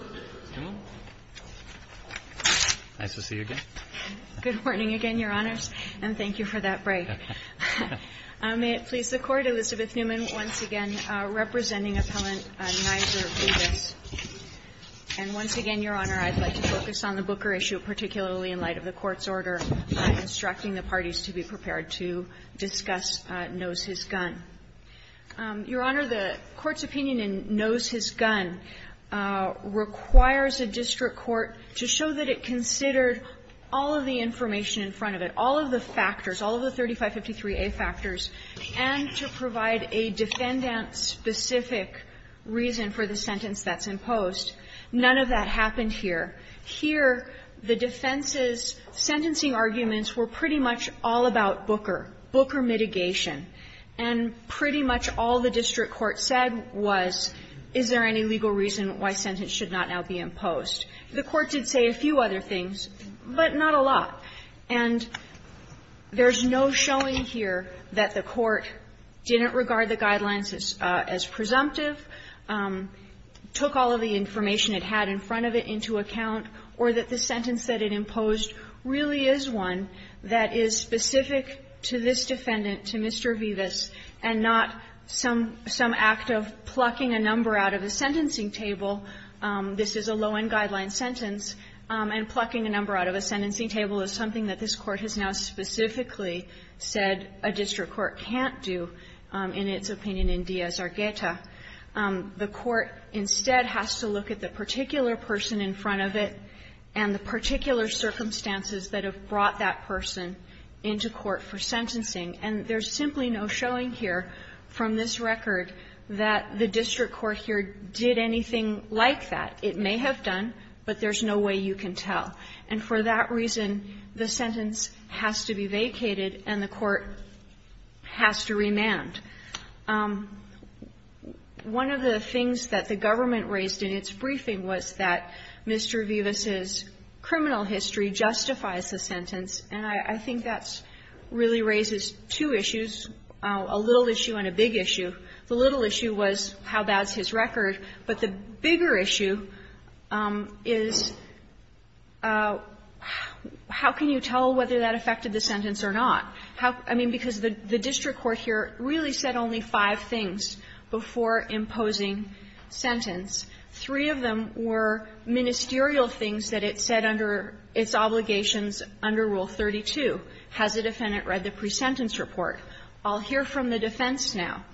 Elizabeth Newman May it please the Court, Elizabeth Newman once again representing Appellant Nizer VIVAS. And once again, Your Honor, I'd like to focus on the Booker issue, particularly in light of the Court's order instructing the parties to be prepared to discuss Knows His Gun. Your Honor, the Court's opinion in Knows His Gun requires a district court to show that it considered all of the information in front of it, all of the factors, all of the 3553A factors, and to provide a defendant-specific reason for the sentence that's imposed. None of that happened here. Here, the defense's sentencing arguments were pretty much all about Booker, Booker mitigation. And pretty much all the district court said was, is there any legal reason why sentence should not now be imposed? The Court did say a few other things, but not a lot. And there's no showing here that the Court didn't regard the guidelines as presumptive, took all of the information it had in front of it into account, or that the sentence that it imposed really is one that is specific to this defendant, to Mr. VIVAS, and not some act of plucking a number out of a sentencing table. This is a low-end guideline sentence, and plucking a number out of a sentencing table is something that this Court has now specifically said a district court can't do, in its opinion, in Díaz-Argueta. The Court instead has to look at the particular person in front of it and the particular circumstances that have brought that person into court for sentencing. And there's simply no showing here from this record that the district court here did anything like that. It may have done, but there's no way you can tell. And for that reason, the sentence has to be vacated and the Court has to remand. One of the things that the government raised in its briefing was that Mr. VIVAS's criminal history justifies the sentence, and I think that really raises two questions. There's two issues, a little issue and a big issue. The little issue was how bad's his record, but the bigger issue is how can you tell whether that affected the sentence or not? I mean, because the district court here really said only five things before imposing sentence. Three of them were ministerial things that it said under its obligations under Rule 32, has the defendant read the pre-sentence report, I'll hear from the defense now,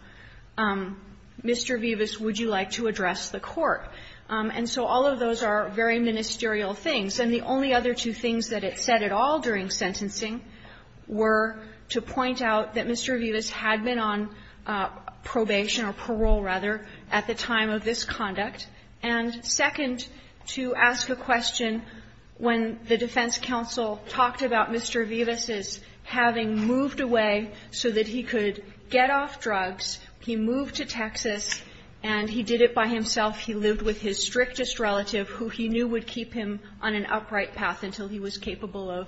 Mr. VIVAS, would you like to address the court? And so all of those are very ministerial things. And the only other two things that it said at all during sentencing were to point out that Mr. VIVAS had been on probation or parole, rather, at the time of this conduct, and, second, to ask a question when the defense counsel talked about Mr. VIVAS's having moved away so that he could get off drugs. He moved to Texas, and he did it by himself. He lived with his strictest relative, who he knew would keep him on an upright path until he was capable of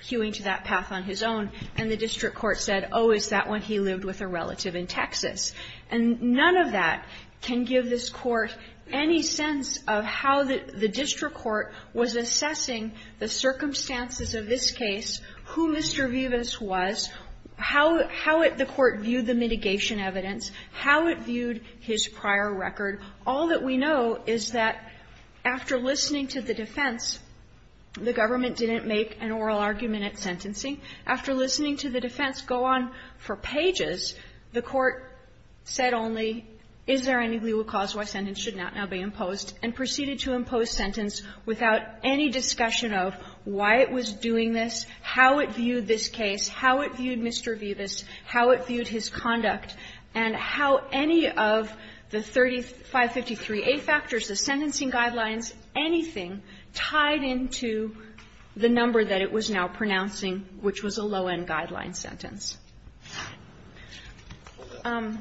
hewing to that path on his own. And the district court said, oh, is that when he lived with a relative in Texas. And none of that can give this Court any sense of how the district court was assessing the circumstances of this case, who Mr. VIVAS was, how it the court viewed the mitigation evidence, how it viewed his prior record. All that we know is that after listening to the defense, the government didn't make an oral argument at sentencing. After listening to the defense go on for pages, the court said only, is there any legal cause why a sentence should not now be imposed, and proceeded to impose sentence without any discussion of why it was doing this, how it viewed this case, how it viewed Mr. VIVAS, how it viewed his conduct, and how any of the 3553A factors, the sentencing guidelines, anything, tied into the number that it was now pronouncing, which was a low-end guideline sentence. On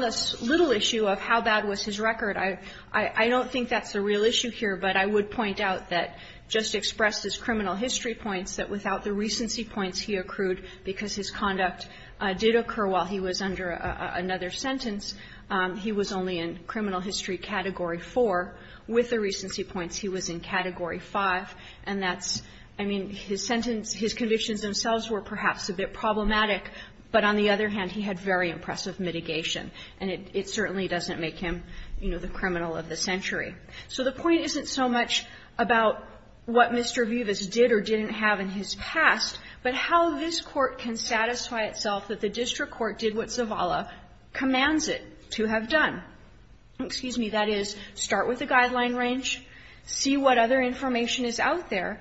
this little issue of how bad was his record, I don't think But I would point out that, just expressed as criminal history points, that without the recency points he accrued, because his conduct did occur while he was under another sentence, he was only in criminal history Category 4. With the recency points, he was in Category 5. And that's, I mean, his sentence his convictions themselves were perhaps a bit problematic, but on the other hand, he had very impressive mitigation. And it certainly doesn't make him, you know, the criminal of the century. So the point isn't so much about what Mr. VIVAS did or didn't have in his past, but how this Court can satisfy itself that the district court did what Zavala commands it to have done. Excuse me. That is, start with the guideline range, see what other information is out there,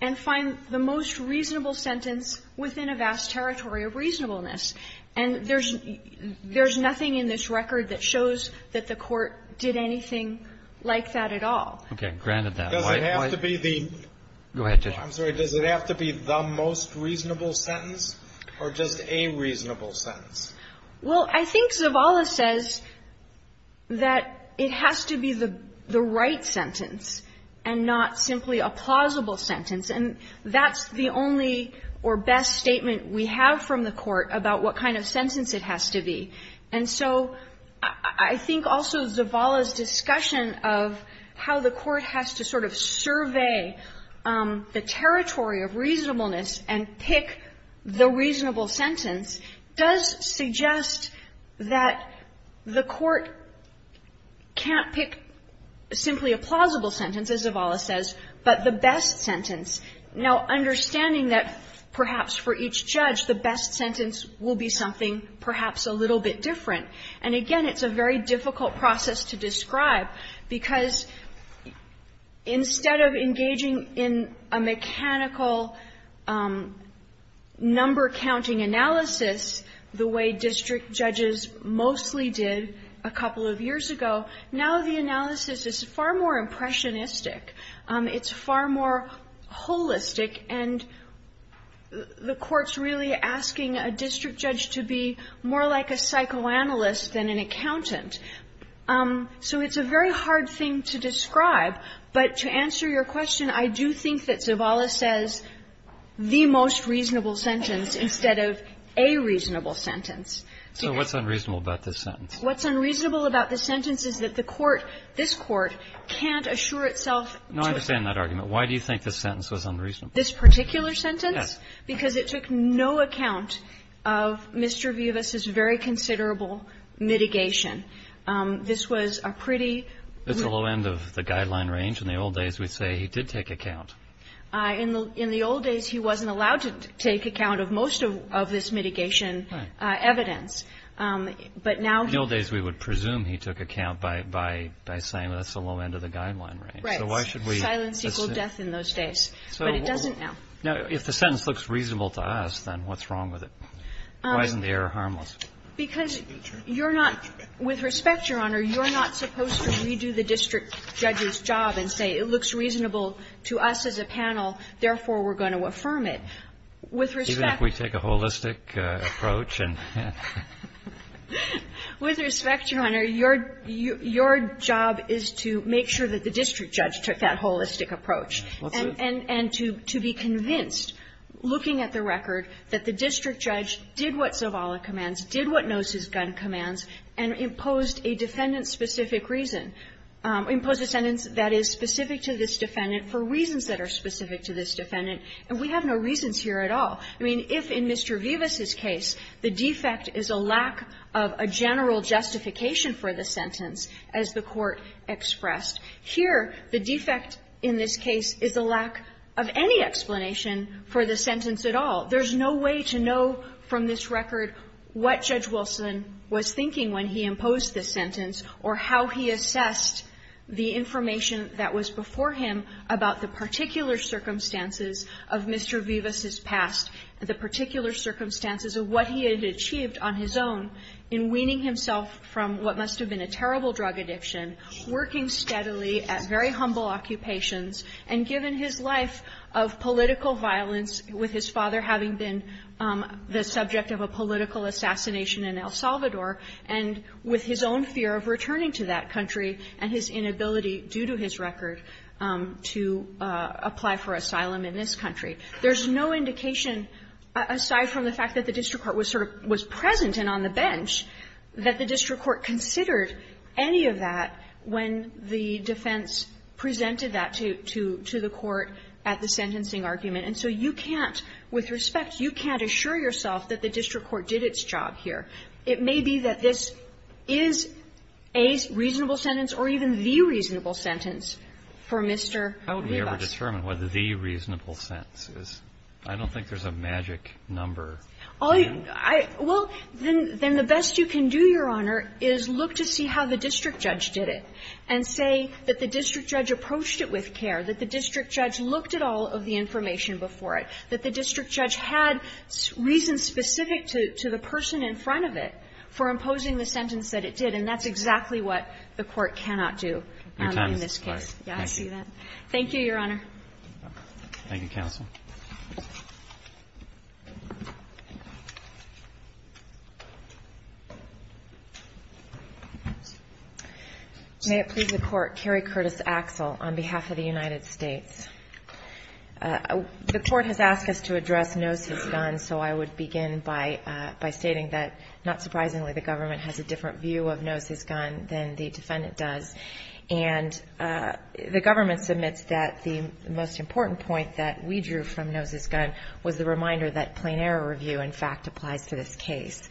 and find the most reasonable sentence within a vast territory of reasonableness. And there's nothing in this record that shows that the Court did anything like that at all. Okay. Granted that. Does it have to be the most reasonable sentence or just a reasonable sentence? Well, I think Zavala says that it has to be the right sentence and not simply a plausible sentence. And that's the only or best statement we have from the Court about what kind of sentence it has to be. And so I think also Zavala's discussion of how the Court has to sort of survey the territory of reasonableness and pick the reasonable sentence does suggest that the Court can't pick simply a plausible sentence, as Zavala says, but the best sentence. Now, understanding that perhaps for each judge, the best sentence will be something perhaps a little bit different. And again, it's a very difficult process to describe, because instead of engaging in a mechanical number-counting analysis, the way district judges mostly did a couple of years ago, now the analysis is far more impressionistic. It's far more holistic. And the Court's really asking a district judge to be more like a psychoanalyst than an accountant. So it's a very hard thing to describe. But to answer your question, I do think that Zavala says the most reasonable sentence instead of a reasonable sentence. So what's unreasonable about this sentence? What's unreasonable about this sentence is that the Court, this Court, can't assure itself to No, I understand that argument. Why do you think this sentence was unreasonable? This particular sentence? Yes. Because it took no account of Mr. Vivas's very considerable mitigation. This was a pretty It's a low end of the guideline range. In the old days, we'd say he did take account. In the old days, he wasn't allowed to take account of most of this mitigation evidence. In the old days, we would presume he took account by saying that's a low end of the guideline range. Right. So why should we Silence equals death in those days. But it doesn't now. Now, if the sentence looks reasonable to us, then what's wrong with it? Why isn't the error harmless? Because you're not, with respect, Your Honor, you're not supposed to redo the district judge's job and say it looks reasonable to us as a panel, therefore we're going to affirm it. With respect Even if we take a holistic approach and With respect, Your Honor, your job is to make sure that the district judge took that holistic approach. And to be convinced, looking at the record, that the district judge did what Zavala commands, did what knows his gun commands, and imposed a defendant-specific reason, imposed a sentence that is specific to this defendant for reasons that are specific to this defendant. And we have no reasons here at all. I mean, if in Mr. Vivas's case, the defect is a lack of a general justification for the sentence, as the Court expressed, here, the defect in this case is a lack of any explanation for the sentence at all. There's no way to know from this record what Judge Wilson was thinking when he imposed the sentence or how he assessed the information that was before him about the particular circumstances of Mr. Vivas's past, the particular circumstances of what he had achieved on his own in weaning himself from what must have been a terrible drug addiction, working steadily at very humble occupations, and given his life of political violence, with his father having been the subject of a political assassination in El Salvador, and with his own fear of returning to that country and his inability, due to his record, to apply for asylum in this country. There's no indication, aside from the fact that the district court was sort of was present and on the bench, that the district court considered any of that when the defense presented that to the court at the sentencing argument. And so you can't, with respect, you can't assure yourself that the district court did its job here. It may be that this is a reasonable sentence or even the reasonable sentence for Mr. Vivas. How would we ever determine what the reasonable sentence is? I don't think there's a magic number. Well, then the best you can do, Your Honor, is look to see how the district judge did it, and say that the district judge approached it with care, that the district judge looked at all of the information before it, that the district judge had reasons specific to the person in front of it for imposing the sentence that it did, and that's exactly what the Court cannot do in this case. Thank you, Your Honor. Thank you, counsel. May it please the Court. Kerry Curtis Axel on behalf of the United States. The Court has asked us to address Nose v. Dunn, so I would begin by saying that not surprisingly, the government has a different view of Nose v. Dunn than the defendant does, and the government submits that the most important point that we drew from Nose v. Dunn was the reminder that plain error review, in fact, applies to this case.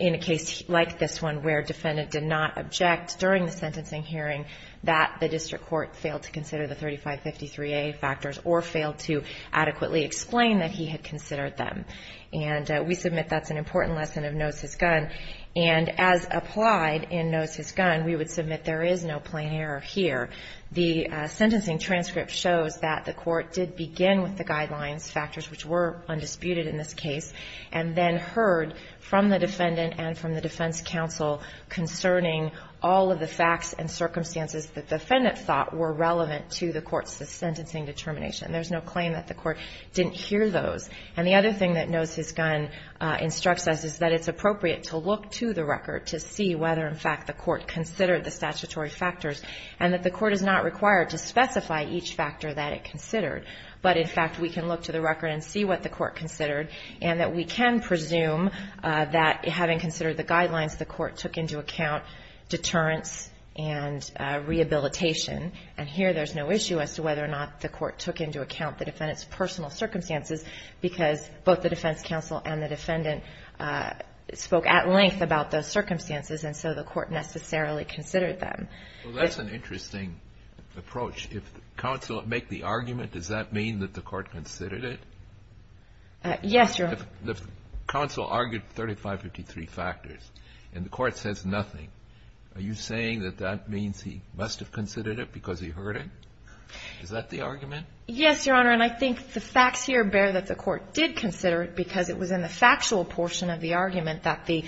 In a case like this one, where a defendant did not object during the sentencing hearing that the district court failed to consider the 3553A factors or failed to adequately explain that he had considered them. And we submit that's an important lesson of Nose v. Dunn. And as applied in Nose v. Dunn, we would submit there is no plain error here. The sentencing transcript shows that the Court did begin with the guidelines factors, which were undisputed in this case, and then heard from the defendant and from the defense counsel concerning all of the facts and circumstances that the defendant thought were relevant to the Court's sentencing determination. There's no claim that the Court didn't hear those. And the other thing that Nose v. Dunn instructs us is that it's appropriate to look to the record to see whether, in fact, the Court considered the statutory factors, and that the Court is not required to specify each factor that it considered. But, in fact, we can look to the record and see what the Court considered, and that we can presume that, having considered the guidelines, the Court took into account deterrence and rehabilitation. And here there's no issue as to whether or not the Court took into account the because both the defense counsel and the defendant spoke at length about those circumstances, and so the Court necessarily considered them. Well, that's an interesting approach. If the counsel make the argument, does that mean that the Court considered it? Yes, Your Honor. If the counsel argued 3553 factors and the Court says nothing, are you saying that that means he must have considered it because he heard it? Is that the argument? Yes, Your Honor. And I think the facts here bear that the Court did consider it because it was in the factual portion of the argument that the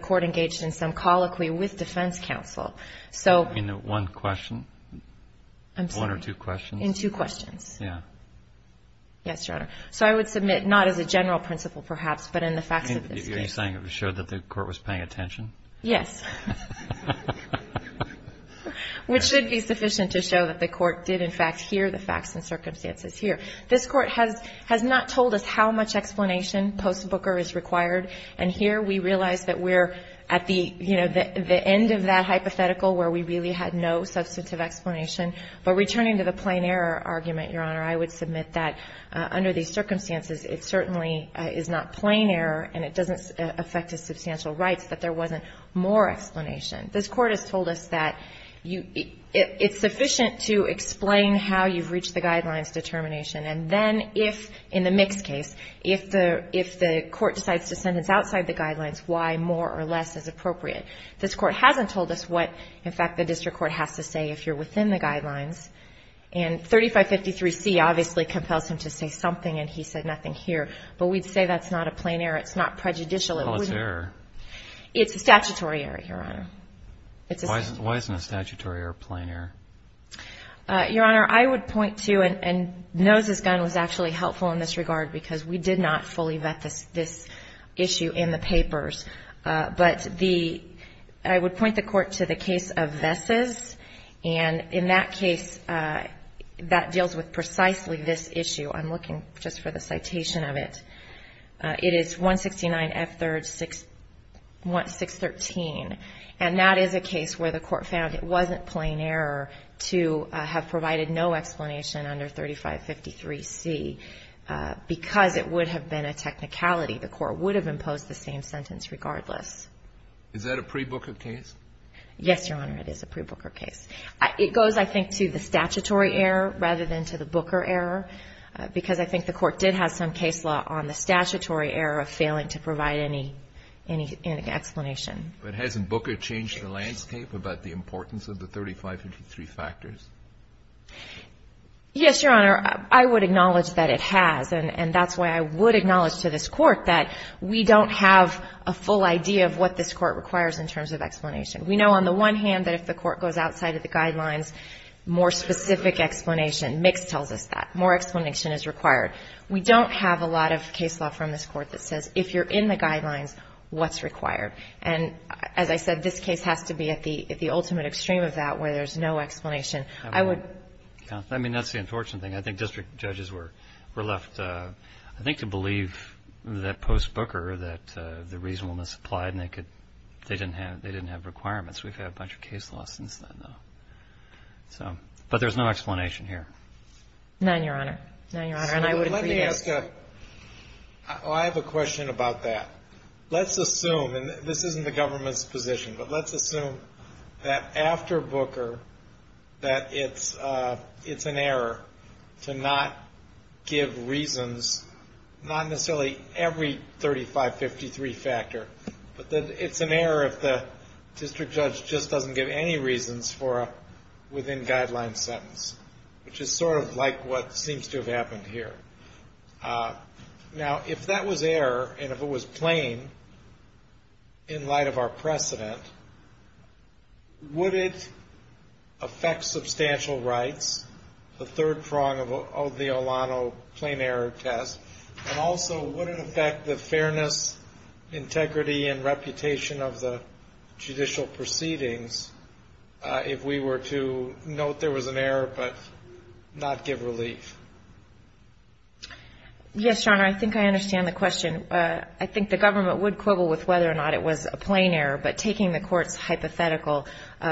Court engaged in some colloquy with defense counsel. In one question? I'm sorry. One or two questions? In two questions. Yeah. Yes, Your Honor. So I would submit not as a general principle, perhaps, but in the facts of this case. Are you saying it would show that the Court was paying attention? Yes. Which should be sufficient to show that the Court did, in fact, hear the facts and circumstances here. This Court has not told us how much explanation post-Booker is required, and here we realize that we're at the, you know, the end of that hypothetical where we really had no substantive explanation. But returning to the plain error argument, Your Honor, I would submit that under these circumstances, it certainly is not plain error and it doesn't affect his substantial rights that there wasn't more explanation. This Court has told us that it's sufficient to explain how you've reached the guidelines determination. And then if, in the mixed case, if the Court decides to sentence outside the guidelines, why more or less is appropriate. This Court hasn't told us what, in fact, the district court has to say if you're within the guidelines. And 3553C obviously compels him to say something and he said nothing here. But we'd say that's not a plain error. It's not prejudicial. Well, it's error. It's a statutory error, Your Honor. It's a statutory error. Why isn't a statutory error plain error? Your Honor, I would point to, and Nose's gun was actually helpful in this regard because we did not fully vet this issue in the papers. But the, I would point the Court to the case of Vess's. And in that case, that deals with precisely this issue. I'm looking just for the citation of it. It is 169F3-613. And that is a case where the Court found it wasn't plain error to have provided no explanation under 3553C because it would have been a technicality. The Court would have imposed the same sentence regardless. Is that a pre-Booker case? Yes, Your Honor, it is a pre-Booker case. It goes, I think, to the statutory error rather than to the Booker error because I think the Court did have some case law on the statutory error of failing to provide any explanation. But hasn't Booker changed the landscape about the importance of the 3553 factors? Yes, Your Honor. I would acknowledge that it has. And that's why I would acknowledge to this Court that we don't have a full idea of what this Court requires in terms of explanation. We know on the one hand that if the Court goes outside of the guidelines, more specific explanation, Mix tells us that. More explanation is required. We don't have a lot of case law from this Court that says if you're in the guidelines, what's required? And as I said, this case has to be at the ultimate extreme of that where there's no explanation. I would — I mean, that's the unfortunate thing. I think district judges were left, I think, to believe that post-Booker that the reasonableness applied and they didn't have requirements. We've had a bunch of case laws since then, though. But there's no explanation here. None, Your Honor. None, Your Honor. And I would agree with that. Let me ask a — oh, I have a question about that. Let's assume, and this isn't the government's position, but let's assume that after Booker that it's an error to not give reasons, not necessarily every 3553 factor, but that it's an error if the district judge just doesn't give any reasons for a within-guideline sentence, which is sort of like what seems to have happened here. Now, if that was error and if it was plain in light of our precedent, would it affect substantial rights, the third prong of the Olano plain error test, and also would it affect the fairness, integrity, and reputation of the judicial proceedings if we were to note there was an error but not give relief? Yes, Your Honor. I think I understand the question. I think the government would quibble with whether or not it was a plain error. But taking the Court's hypothetical,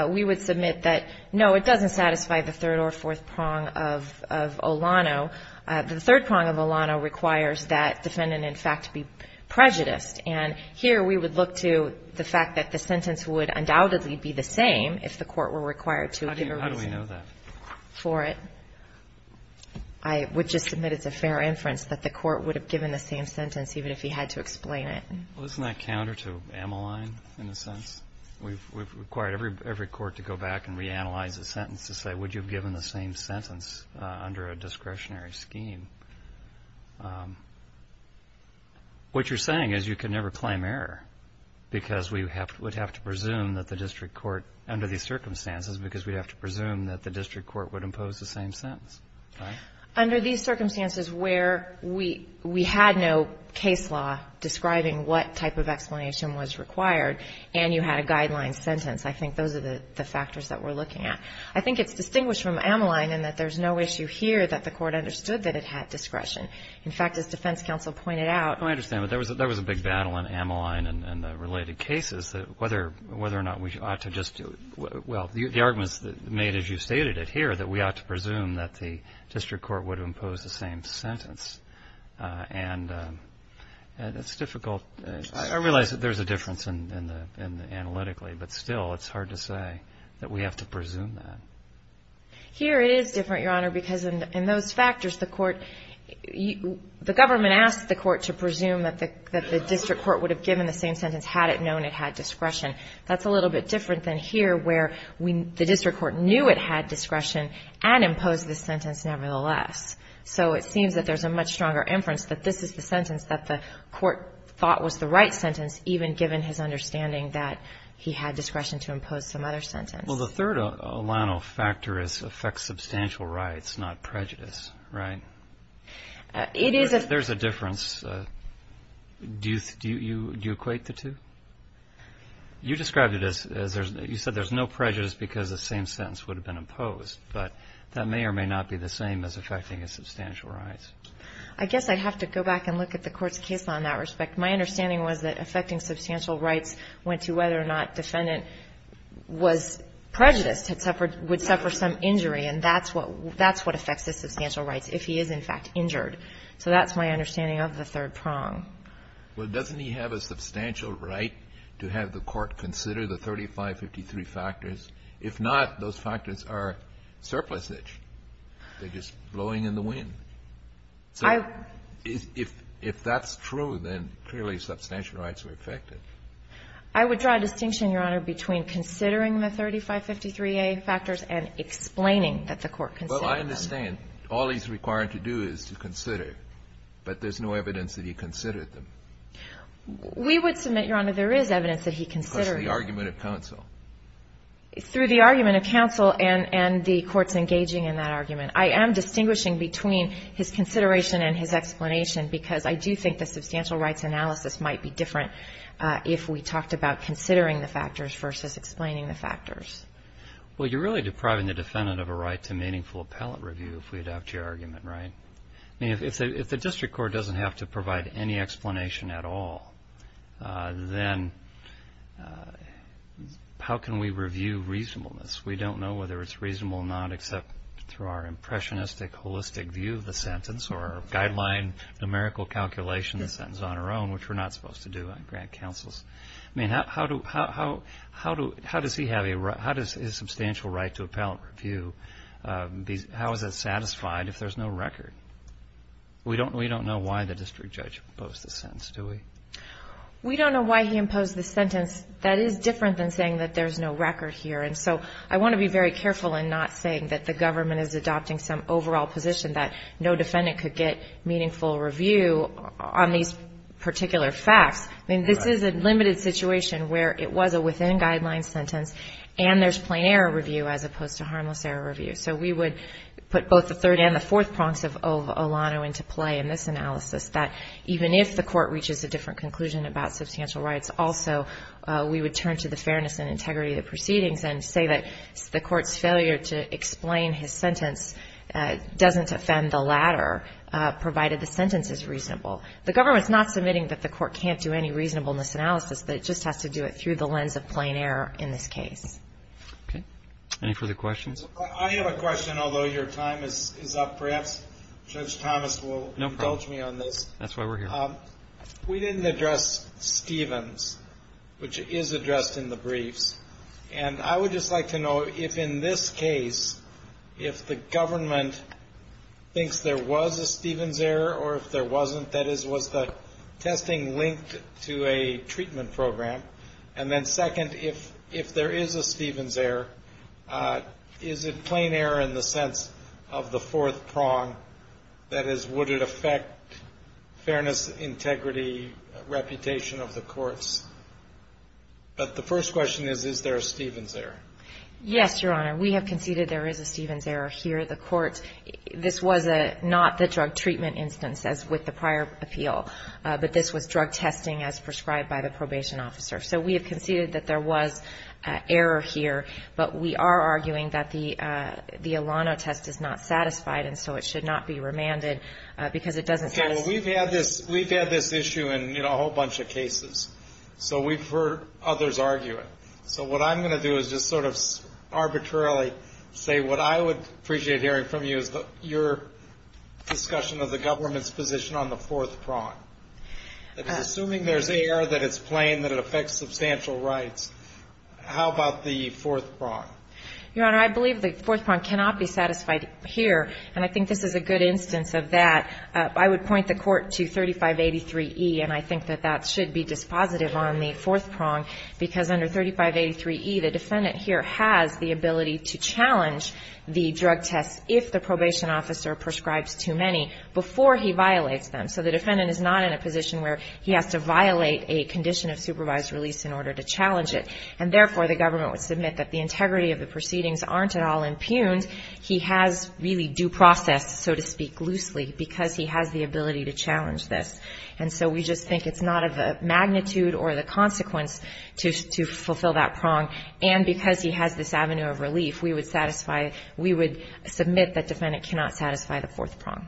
we would submit that, no, it doesn't satisfy the third or fourth prong of Olano. The third prong of Olano requires that defendant, in fact, be prejudiced. And here we would look to the fact that the sentence would undoubtedly be the same if the Court were required to give a reason for it. How do we know that? I would just submit it's a fair inference that the Court would have given the same sentence even if he had to explain it. Well, isn't that counter to Ameline in a sense? We've required every court to go back and reanalyze the sentence to say, would you have given the same sentence under a discretionary scheme? What you're saying is you can never claim error because we would have to presume that the district court, under these circumstances, because we'd have to presume that the district court would impose the same sentence. Right? Under these circumstances where we had no case law describing what type of explanation was required and you had a guideline sentence, I think those are the factors that we're looking at. I think it's distinguished from Ameline in that there's no issue here that the Court understood that it had discretion. In fact, as defense counsel pointed out. I understand, but there was a big battle in Ameline and the related cases that whether or not we ought to just do it. Well, the arguments made, as you stated it here, that we ought to presume that the district court would impose the same sentence. And it's difficult. I realize that there's a difference analytically, but still it's hard to say that we have to presume that. Here it is different, Your Honor, because in those factors, the government asked the court to presume that the district court would have given the same sentence had it known it had discretion. That's a little bit different than here where the district court knew it had discretion and imposed the sentence nevertheless. So it seems that there's a much stronger inference that this is the sentence that the court thought was the right sentence, even given his understanding that he had discretion to impose some other sentence. Well, the third Olano factor is affects substantial rights, not prejudice, right? There's a difference. Do you equate the two? You described it as you said there's no prejudice because the same sentence would have been imposed, but that may or may not be the same as affecting his substantial rights. I guess I'd have to go back and look at the court's case on that respect. My understanding was that affecting substantial rights went to whether or not defendant was prejudiced, would suffer some injury, and that's what affects his substantial rights if he is, in fact, injured. So that's my understanding of the third prong. Well, doesn't he have a substantial right to have the court consider the 3553 factors? If not, those factors are surplusage. They're just blowing in the wind. So if that's true, then clearly substantial rights are affected. I would draw a distinction, Your Honor, between considering the 3553A factors and explaining that the court considered them. Well, I understand. All he's required to do is to consider, but there's no evidence that he considered them. We would submit, Your Honor, there is evidence that he considered them. Because of the argument of counsel. Through the argument of counsel and the court's engaging in that argument. I am distinguishing between his consideration and his explanation because I do think the substantial rights analysis might be different if we talked about considering the factors versus explaining the factors. Well, you're really depriving the defendant of a right to meaningful appellate review if we adopt your argument, right? I mean, if the district court doesn't have to provide any explanation at all, then how can we review reasonableness? We don't know whether it's reasonable or not except through our impressionistic, holistic view of the sentence or guideline numerical calculation of the sentence on our own, which we're not supposed to do on grant counsels. I mean, how does he have a substantial right to appellate review? How is it satisfied if there's no record? We don't know why the district judge imposed the sentence, do we? We don't know why he imposed the sentence. That is different than saying that there's no record here. And so I want to be very careful in not saying that the government is adopting some overall position that no defendant could get meaningful review on these particular facts. I mean, this is a limited situation where it was a within-guidelines sentence and there's plain error review as opposed to harmless error review. So we would put both the third and the fourth prongs of Olano into play in this analysis, that even if the court reaches a different conclusion about substantial rights, also we would turn to the fairness and integrity of the proceedings and say that the court's failure to explain his sentence doesn't offend the latter, provided the sentence is reasonable. The government's not submitting that the court can't do any reasonableness analysis, but it just has to do it through the lens of plain error in this case. Okay. Any further questions? I have a question, although your time is up. Perhaps Judge Thomas will indulge me on this. No problem. That's why we're here. We didn't address Stevens, which is addressed in the briefs, and I would just like to know if, in this case, if the government thinks there was a Stevens error or if there wasn't, that is, was the testing linked to a treatment program, and then second, if there is a Stevens error, is it plain error in the sense of the fourth prong, that is, would it affect fairness, integrity, reputation of the courts? But the first question is, is there a Stevens error? Yes, Your Honor. We have conceded there is a Stevens error here at the court. This was not the drug treatment instance as with the prior appeal, but this was drug testing as prescribed by the probation officer. So we have conceded that there was error here, but we are arguing that the Alano test is not satisfied and so it should not be remanded because it doesn't satisfy. We've had this issue in a whole bunch of cases. So we've heard others argue it. So what I'm going to do is just sort of arbitrarily say what I would appreciate hearing from you is your discussion of the government's position on the fourth prong. Assuming there's error, that it's plain, that it affects substantial rights, how about the fourth prong? Your Honor, I believe the fourth prong cannot be satisfied here, and I think this is a good instance of that. I would point the Court to 3583E, and I think that that should be dispositive on the fourth prong because under 3583E the defendant here has the ability to challenge the drug test if the probation officer prescribes too many before he violates them. So the defendant is not in a position where he has to violate a condition of supervised release in order to challenge it, and therefore the government would submit that the integrity of the proceedings aren't at all impugned. He has really due process, so to speak, loosely, because he has the ability to challenge this. And so we just think it's not of a magnitude or the consequence to fulfill that prong, and because he has this avenue of relief, we would submit that the defendant cannot satisfy the fourth prong.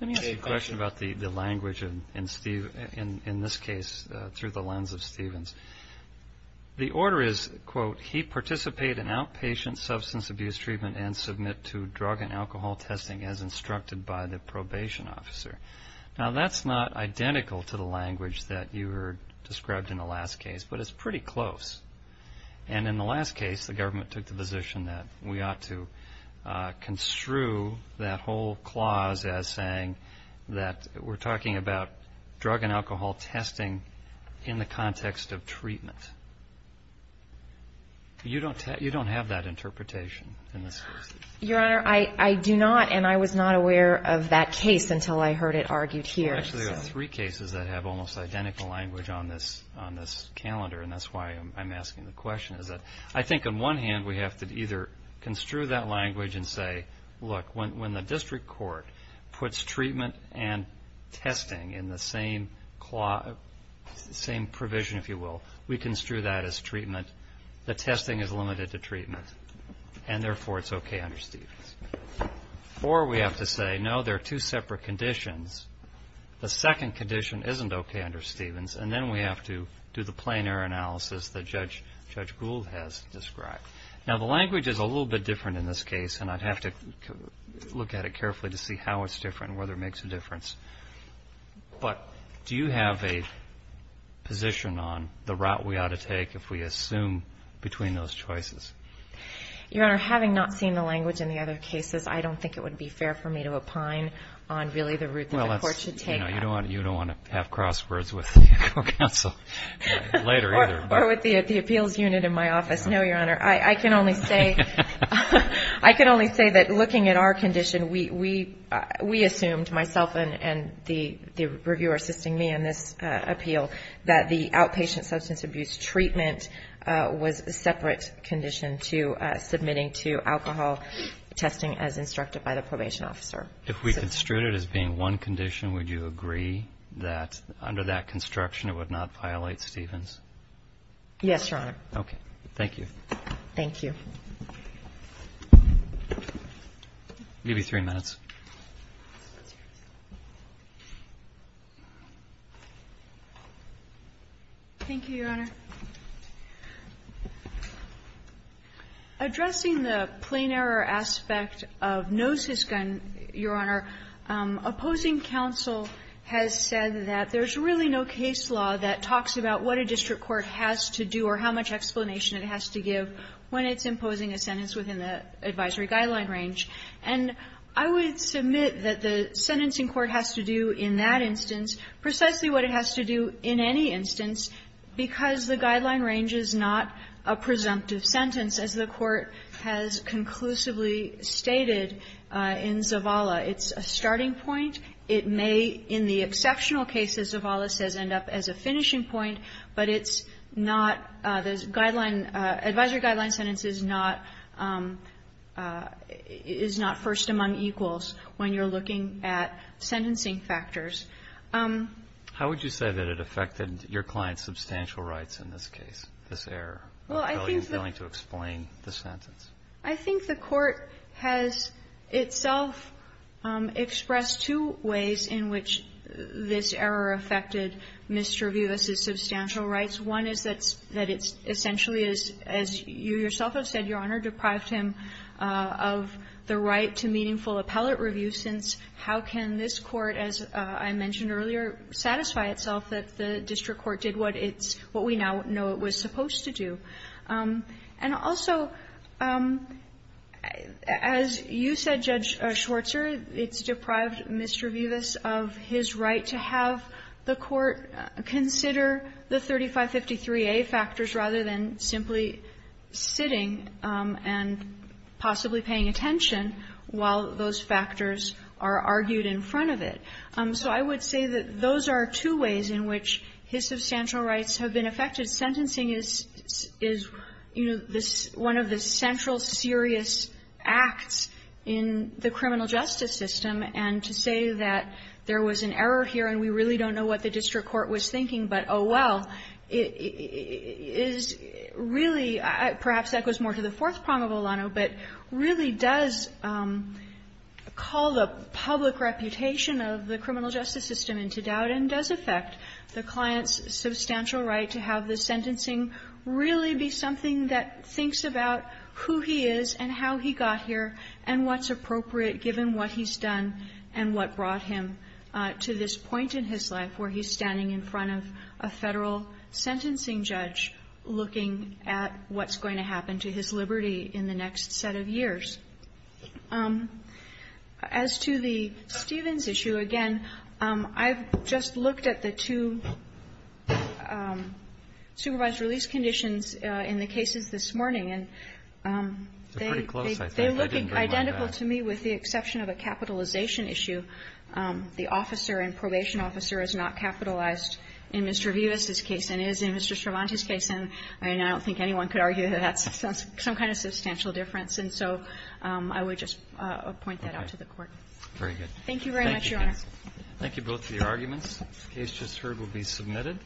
Let me ask you a question about the language in this case through the lens of Stevens. The order is, quote, he participate in outpatient substance abuse treatment and submit to drug and alcohol testing as instructed by the probation officer. Now that's not identical to the language that you heard described in the last case, but it's pretty close. And in the last case, the government took the position that we ought to construe that whole clause as saying that we're talking about drug and alcohol testing in the context of treatment. You don't have that interpretation in this case. Your Honor, I do not, and I was not aware of that case until I heard it argued here. Actually, there are three cases that have almost identical language on this calendar, and that's why I'm asking the question, is that I think on one hand we have to either construe that language and say, look, when the district court puts treatment and testing in the same provision, if you will, we construe that as treatment. The testing is limited to treatment, and therefore it's okay under Stevens. Or we have to say, no, there are two separate conditions. The second condition isn't okay under Stevens, and then we have to do the plein air analysis that Judge Gould has described. Now the language is a little bit different in this case, and I'd have to look at it carefully to see how it's different and whether it makes a difference. But do you have a position on the route we ought to take if we assume between those choices? Your Honor, having not seen the language in the other cases, I don't think it would be fair for me to opine on really the route that the court should take. You don't want to have crosswords with the legal counsel later either. Or with the appeals unit in my office. No, Your Honor. I can only say that looking at our condition, we assumed, myself and the reviewer assisting me in this appeal, that the outpatient substance abuse treatment was a separate condition to submitting to alcohol testing as instructed by the probation officer. If we construe it as being one condition, would you agree that under that construction it would not violate Stevens? Yes, Your Honor. Okay. Thank you. Thank you. Maybe three minutes. Thank you, Your Honor. Addressing the plain error aspect of no-sysgun, Your Honor, opposing counsel has said that there's really no case law that talks about what a district court has to do or how much explanation it has to give when it's imposing a sentence within the advisory guideline range. And I would submit that the sentencing court has to do in that instance precisely what it has to do in any instance, because the guideline range is not a presumptive sentence, as the Court has conclusively stated in Zavala. It's a starting point. It may, in the exceptional cases Zavala says, end up as a finishing point. But it's not the guideline, advisory guideline sentence is not first among equals when you're looking at sentencing factors. How would you say that it affected your client's substantial rights in this case, this error? Well, I think that the court has itself expressed two ways in which this error affected Mr. Vivas' substantial rights. One is that it's essentially, as you yourself have said, Your Honor, deprived him of the right to meaningful appellate review, since how can this court, as I mentioned earlier, satisfy itself that the district court did what it's what we now know it was supposed to do? And also, as you said, Judge Schwarzer, it's deprived Mr. Vivas of his right to have the court consider the 3553A factors rather than simply sitting and possibly paying attention while those factors are argued in front of it. So I would say that those are two ways in which his substantial rights have been affected. Sentencing is, you know, one of the central serious acts in the criminal justice system, and to say that there was an error here and we really don't know what the district court was thinking but, oh, well, is really perhaps that goes more to the fourth prong of Olano, but really does call the public reputation of the criminal justice system into doubt and does affect the client's substantial right to have the sentencing really be something that thinks about who he is and how he got here and what's appropriate given what he's done and what brought him to this point in his life where he's standing in front of a Federal sentencing judge looking at what's going to happen to his liberty in the next set of years. As to the Stevens issue, again, I've just looked at the two supervised release conditions in the cases this morning, and they look identical to me with the exception of a capitalization issue. The officer and probation officer is not capitalized in Mr. Vivas's case and is in Mr. Cervantes' case, and I don't think anyone could argue that that's some kind of substantial difference, and so I would just point that out to the Court. Very good. Thank you very much, Your Honor. Thank you, both, for your arguments. The case just heard will be submitted.